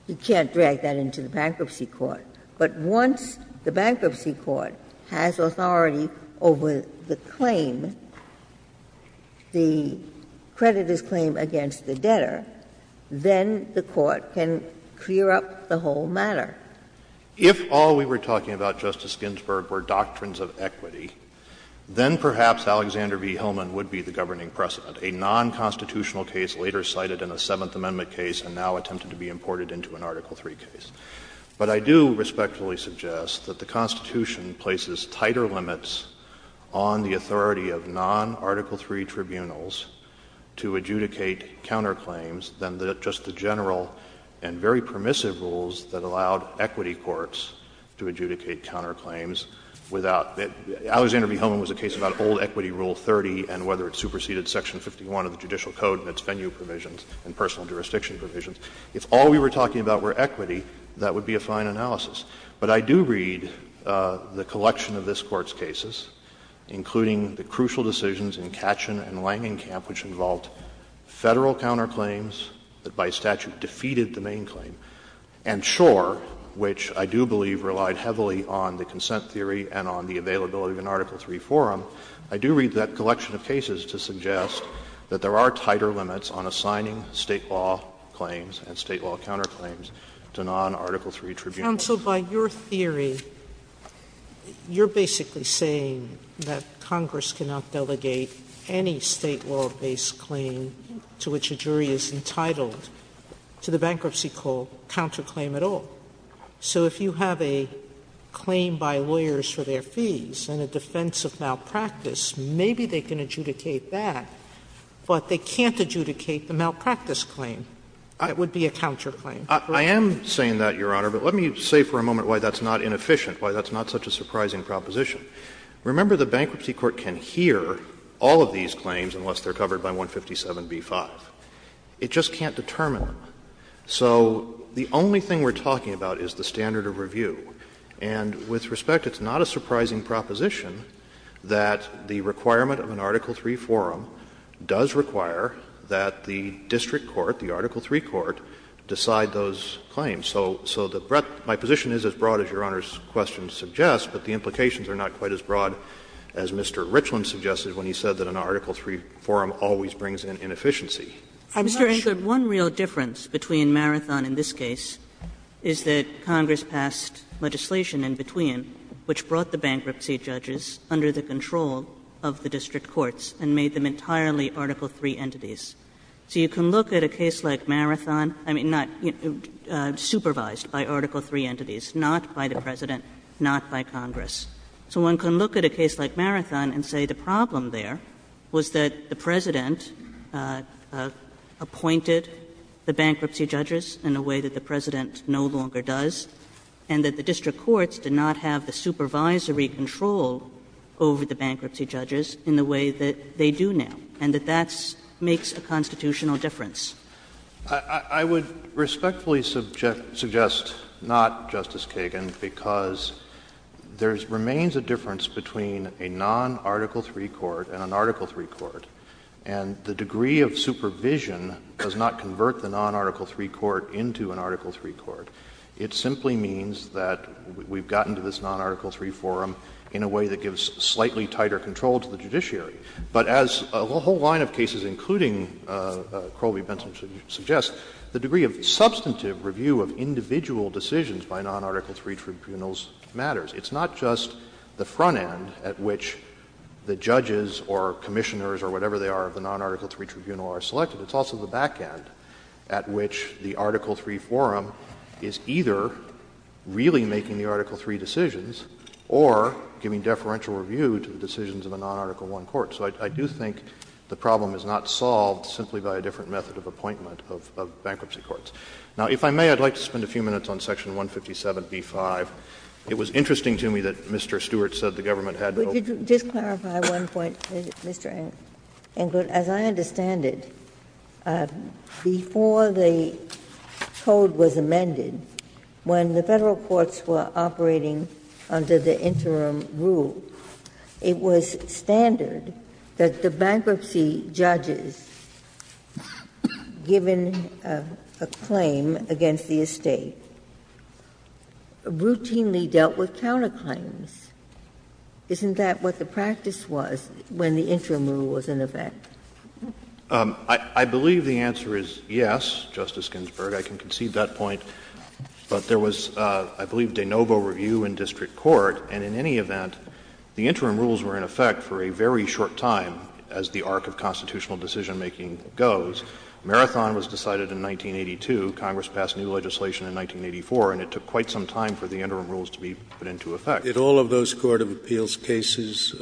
you can't drag that into the bankruptcy court. But once the bankruptcy court has authority over the claim, the creditor's claim against the debtor, then the court can clear up the whole matter. If all we were talking about, Justice Ginsburg, were doctrines of equity, then perhaps Alexander v. Hillman would be the governing precedent, a non-constitutional case later cited in a Seventh Amendment case and now attempted to be imported into an Article III case. But I do respectfully suggest that the Constitution places tighter limits on the authority of non-Article III tribunals to adjudicate counterclaims than just the general and very permissive rules that allowed equity courts to adjudicate counterclaims without the — Alexander v. Hillman was a case about old Equity Rule 30 and whether it superseded Section 51 of the Judicial Code and its venue provisions and personal jurisdiction provisions. If all we were talking about were equity, that would be a fine analysis. But I do read the collection of this Court's cases, including the crucial decisions in Katchen and Langenkamp, which involved Federal counterclaims that by statute defeated the main claim, and Schor, which I do believe relied heavily on the consent theory and on the availability of an Article III forum, I do read that collection of cases to suggest that there are tighter limits on assigning State law claims and State law counterclaims to non-Article III tribunals. Sotomayor, you're basically saying that Congress cannot delegate any State law-based claim to which a jury is entitled to the bankruptcy court counterclaim at all. So if you have a claim by lawyers for their fees in a defense of malpractice, maybe they can adjudicate that, but they can't adjudicate the malpractice claim. It would be a counterclaim. I am saying that, Your Honor, but let me say for a moment why that's not inefficient, why that's not such a surprising proposition. Remember, the bankruptcy court can hear all of these claims unless they're covered by 157b-5. It just can't determine them. So the only thing we're talking about is the standard of review. And with respect, it's not a surprising proposition that the requirement of an Article III forum does require that the district court, the Article III court, decide those claims. So the breadth of my position is as broad as Your Honor's question suggests, but the implications are not quite as broad as Mr. Richland suggested when he said that an Article III forum always brings in inefficiency. I'm not sure. Kagan. One real difference between Marathon and this case is that Congress passed legislation in between, which brought the bankruptcy judges under the control of the district courts and made them entirely Article III entities. So you can look at a case like Marathon, I mean, not — supervised by Article III entities, not by the President, not by Congress. So one can look at a case like Marathon and say the problem there was that the President appointed the bankruptcy judges in a way that the President no longer does, and that the district courts did not have the supervisory control over the bankruptcy judges in the way that they do now, and that that makes a constitutional difference. I would respectfully suggest not, Justice Kagan, because there remains a difference between a non-Article III court and an Article III court, and the degree of supervision does not convert the non-Article III court into an Article III court. It simply means that we've gotten to this non-Article III forum in a way that gives slightly tighter control to the judiciary. But as a whole line of cases, including Crowley-Benson's, suggests, the degree of substantive review of individual decisions by non-Article III tribunals matters. It's not just the front end at which the judges or commissioners or whatever they are of the non-Article III tribunal are selected. It's also the back end at which the Article III forum is either really making the Article III decisions or giving deferential review to the decisions of a non-Article I court. So I do think the problem is not solved simply by a different method of appointment of bankruptcy courts. Now, if I may, I'd like to spend a few minutes on Section 157b-5. It was interesting to me that Mr. Stewart said the government had not. Ginsburg. Just clarify one point, Mr. Englert. As I understand it, before the code was amended, when the Federal courts were operating under the interim rule, it was standard that the bankruptcy judges, given a claim against the estate, routinely dealt with counterclaims. Isn't that what the practice was when the interim rule was in effect? Englert, I believe the answer is yes, Justice Ginsburg. I can concede that point. But there was, I believe, de novo review in district court, and in any event, the interim rules were in effect for a very short time as the arc of constitutional decisionmaking goes. Marathon was decided in 1982. Congress passed new legislation in 1984, and it took quite some time for the interim rules to be put into effect. Scalia. Did all of those court of appeals cases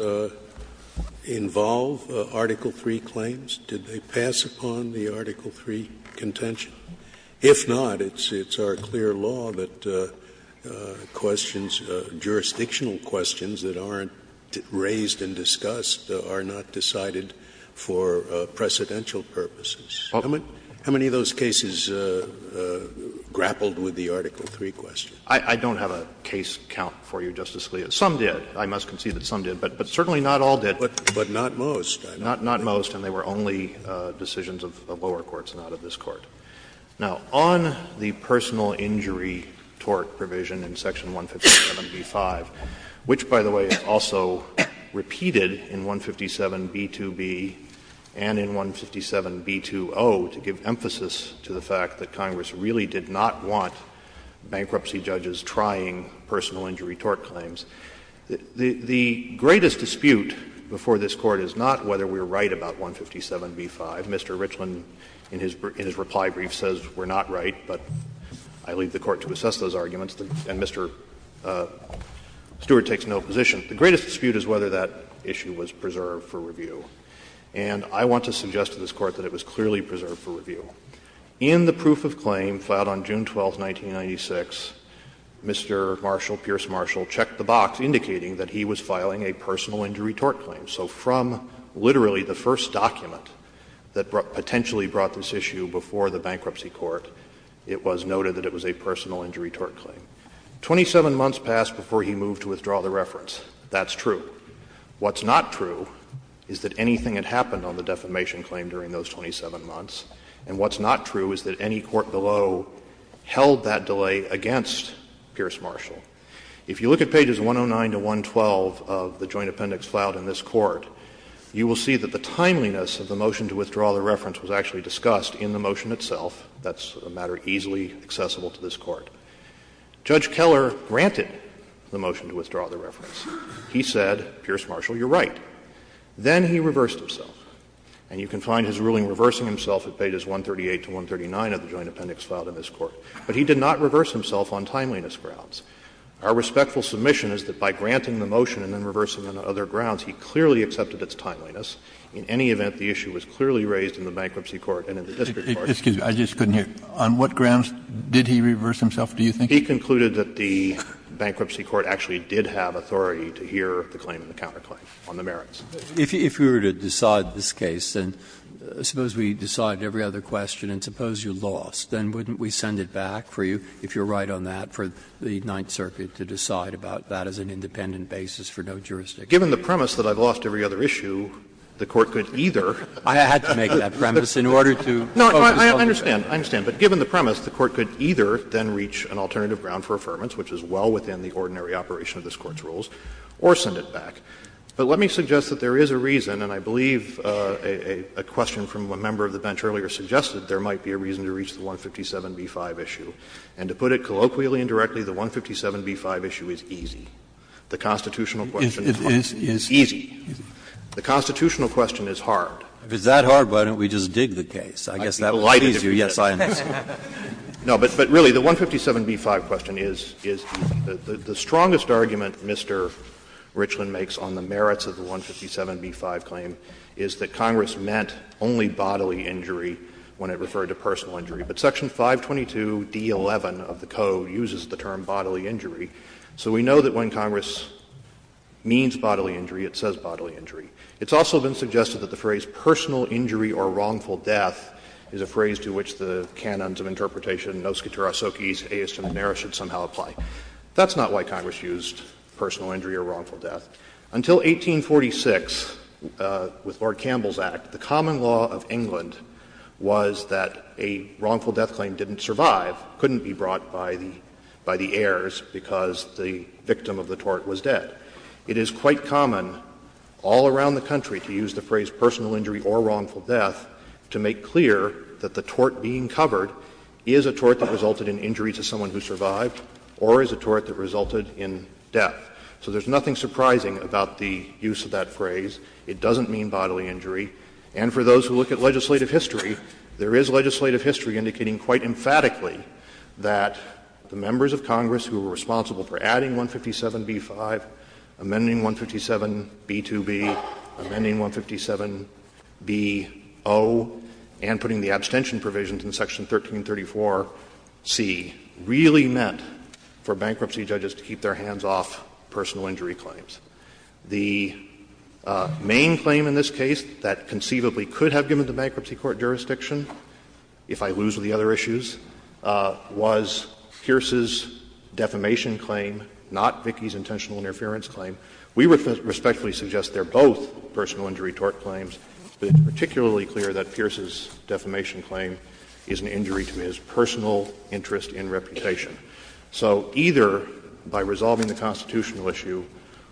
involve Article III claims? Did they pass upon the Article III contention? If not, it's our clear law that questions, jurisdictional questions that aren't raised and discussed are not decided for precedential purposes. How many of those cases grappled with the Article III question? I don't have a case count for you, Justice Scalia. Some did. I must concede that some did. But certainly not all did. But not most. Not most. And they were only decisions of lower courts, not of this Court. Now, on the personal injury tort provision in section 157b-5, which, by the way, was also repeated in 157b-2b and in 157b-2o to give emphasis to the fact that Congress really did not want bankruptcy judges trying personal injury tort claims, the greatest dispute before this Court is not whether we are right about 157b-5. Mr. Richland, in his reply brief, says we are not right, but I leave the Court to assess those arguments. And Mr. Stewart takes no position. The greatest dispute is whether that issue was preserved for review. And I want to suggest to this Court that it was clearly preserved for review. In the proof of claim filed on June 12, 1996, Mr. Marshall, Pierce Marshall, checked the box indicating that he was filing a personal injury tort claim. So from literally the first document that potentially brought this issue before the bankruptcy court, it was noted that it was a personal injury tort claim. Twenty-seven months passed before he moved to withdraw the reference. That's true. What's not true is that anything had happened on the defamation claim during those 27 months. And what's not true is that any court below held that delay against Pierce Marshall. If you look at pages 109 to 112 of the joint appendix filed in this Court, you will see that the timeliness of the motion to withdraw the reference was actually discussed in the motion itself. That's a matter easily accessible to this Court. Judge Keller granted the motion to withdraw the reference. He said, Pierce Marshall, you're right. Then he reversed himself. And you can find his ruling reversing himself at pages 138 to 139 of the joint appendix filed in this Court. But he did not reverse himself on timeliness grounds. Our respectful submission is that by granting the motion and then reversing on other grounds, he clearly accepted its timeliness. In any event, the issue was clearly raised in the Bankruptcy Court and in the district court. Kennedy, I just couldn't hear. On what grounds did he reverse himself, do you think? He concluded that the Bankruptcy Court actually did have authority to hear the claim and the counterclaim on the merits. Breyer, if we were to decide this case, then suppose we decide every other question and suppose you lost, then wouldn't we send it back for you, if you're right on that, for the Ninth Circuit to decide about that as an independent basis for no jurisdiction? Given the premise that I've lost every other issue, the Court could either. I had to make that premise in order to focus on the other issue. No, I understand, I understand. But given the premise, the Court could either then reach an alternative ground for affirmance, which is well within the ordinary operation of this Court's rules, or send it back. But let me suggest that there is a reason, and I believe a question from a member of the bench earlier suggested there might be a reason to reach the 157b-5 issue. And to put it colloquially and directly, the 157b-5 issue is easy. The constitutional question is easy. The constitutional question is hard. Kennedy, if it's that hard, why don't we just dig the case? I guess that will please you. Yes, I understand. No, but really, the 157b-5 question is, is the strongest argument Mr. Richland makes on the merits of the 157b-5 claim is that Congress meant only bodily injury when it referred to personal injury. But Section 522d-11 of the Code uses the term bodily injury. So we know that when Congress means bodily injury, it says bodily injury. It's also been suggested that the phrase personal injury or wrongful death is a phrase to which the canons of interpretation, nos quatera socis, eis generis, should somehow apply. That's not why Congress used personal injury or wrongful death. Until 1846, with Lord Campbell's Act, the common law of England was that a wrongful death claim didn't survive, couldn't be brought by the heirs because the victim of the tort was dead. It is quite common all around the country to use the phrase personal injury or wrongful death to make clear that the tort being covered is a tort that resulted in injury to someone who survived or is a tort that resulted in death. So there's nothing surprising about the use of that phrase. It doesn't mean bodily injury. And for those who look at legislative history, there is legislative history indicating quite emphatically that the members of Congress who were responsible for adding 157b-5, amending 157b-2b, amending 157b-0, and putting the abstention provisions in Section 1334c, really meant for bankruptcy judges to keep their hands off personal injury claims. The main claim in this case that conceivably could have given the bankruptcy court jurisdiction, if I lose with the other issues, was Pierce's defamation claim, not Vicki's intentional interference claim. We respectfully suggest they are both personal injury tort claims, but it's particularly clear that Pierce's defamation claim is an injury to his personal interest and reputation. So either by resolving the constitutional issue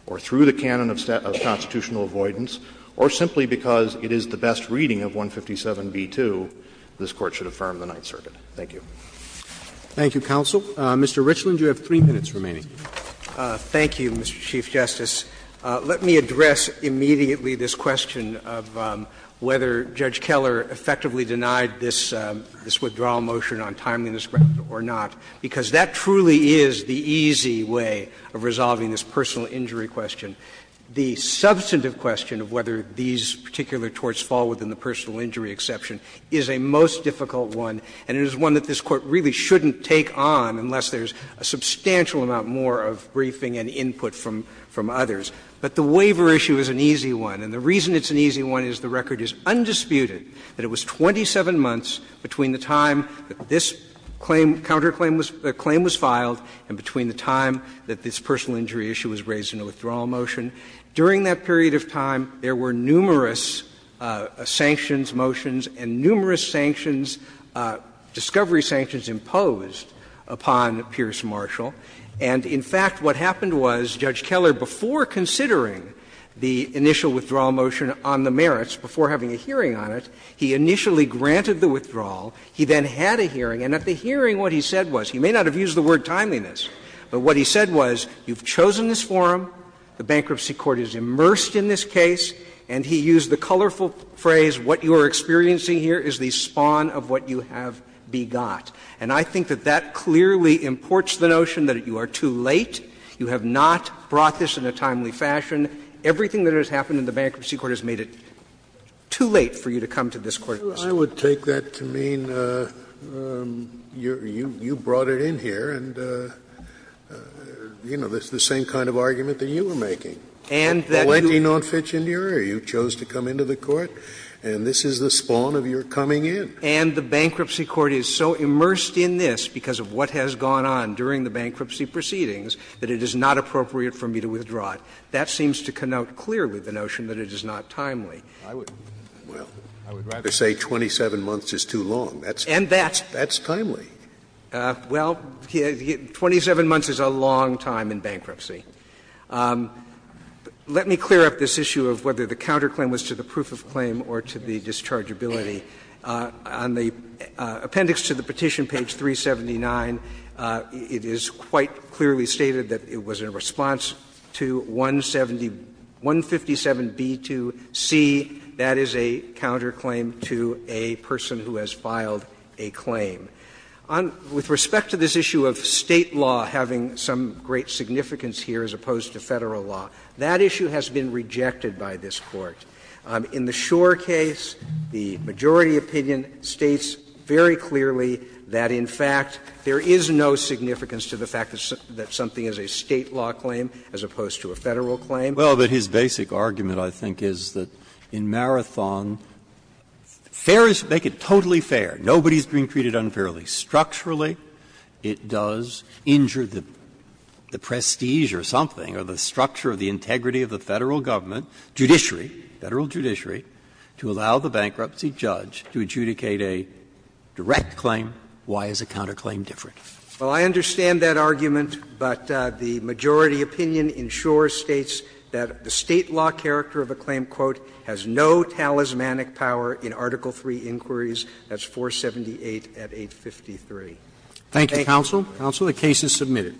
or through the canon of constitutional avoidance, or simply because it is the best reading of 157b-2, this Court should affirm the Ninth Circuit. Thank you. Roberts. Thank you, counsel. Mr. Richland, you have 3 minutes remaining. Thank you, Mr. Chief Justice. Let me address immediately this question of whether Judge Keller effectively denied this withdrawal motion on timeliness or not, because that truly is the easy way of resolving this personal injury question. The substantive question of whether these particular torts fall within the personal injury exception is a most difficult one, and it is one that this Court really shouldn't take on unless there is a substantial amount more of briefing and input from others. But the waiver issue is an easy one, and the reason it's an easy one is the record is undisputed that it was 27 months between the time that this claim, counterclaim was filed and between the time that this personal injury issue was raised in a withdrawal motion. During that period of time, there were numerous sanctions motions and numerous sanctions, discovery sanctions imposed upon Pierce Marshall. And in fact, what happened was, Judge Keller, before considering the initial withdrawal motion on the merits, before having a hearing on it, he initially granted the withdrawal. He then had a hearing, and at the hearing, what he said was, he may not have used the word timeliness, but what he said was, you've chosen this forum, the bankruptcy court is immersed in this case, and he used the colorful phrase, what you are experiencing here is the spawn of what you have begot. And I think that that clearly imports the notion that you are too late, you have not brought this in a timely fashion. Everything that has happened in the bankruptcy court has made it too late for you to come to this courtroom. Scalia, I would take that to mean you brought it in here and, you know, it's the same kind of argument that you were making. And that you chose to come into the court, and this is the spawn of your coming in. And the bankruptcy court is so immersed in this because of what has gone on during the bankruptcy proceedings that it is not appropriate for me to withdraw it. That seems to connote clearly the notion that it is not timely. Scalia, I would rather say 27 months is too long. That's timely. Well, 27 months is a long time in bankruptcy. Let me clear up this issue of whether the counterclaim was to the proof of claim or to the dischargeability. On the appendix to the petition, page 379, it is quite clearly stated that it was in response to 170 157b2c, that is a counterclaim to a person who has filed a claim. With respect to this issue of State law having some great significance here as opposed to Federal law, that issue has been rejected by this Court. In the Shore case, the majority opinion states very clearly that, in fact, there is no significance to the fact that something is a State law claim as opposed to a Federal claim. Well, but his basic argument, I think, is that in Marathon, fair is to make it totally fair. Nobody is being treated unfairly. Structurally, it does injure the prestige or something or the structure or the integrity of the Federal government, judiciary, Federal judiciary, to allow the bankruptcy judge to adjudicate a direct claim. Why is a counterclaim different? Well, I understand that argument, but the majority opinion in Shore states that the State law character of a claim, quote, has no talismanic power in Article III inquiries, that's 478 at 853. Thank you, counsel. Counsel, the case is submitted.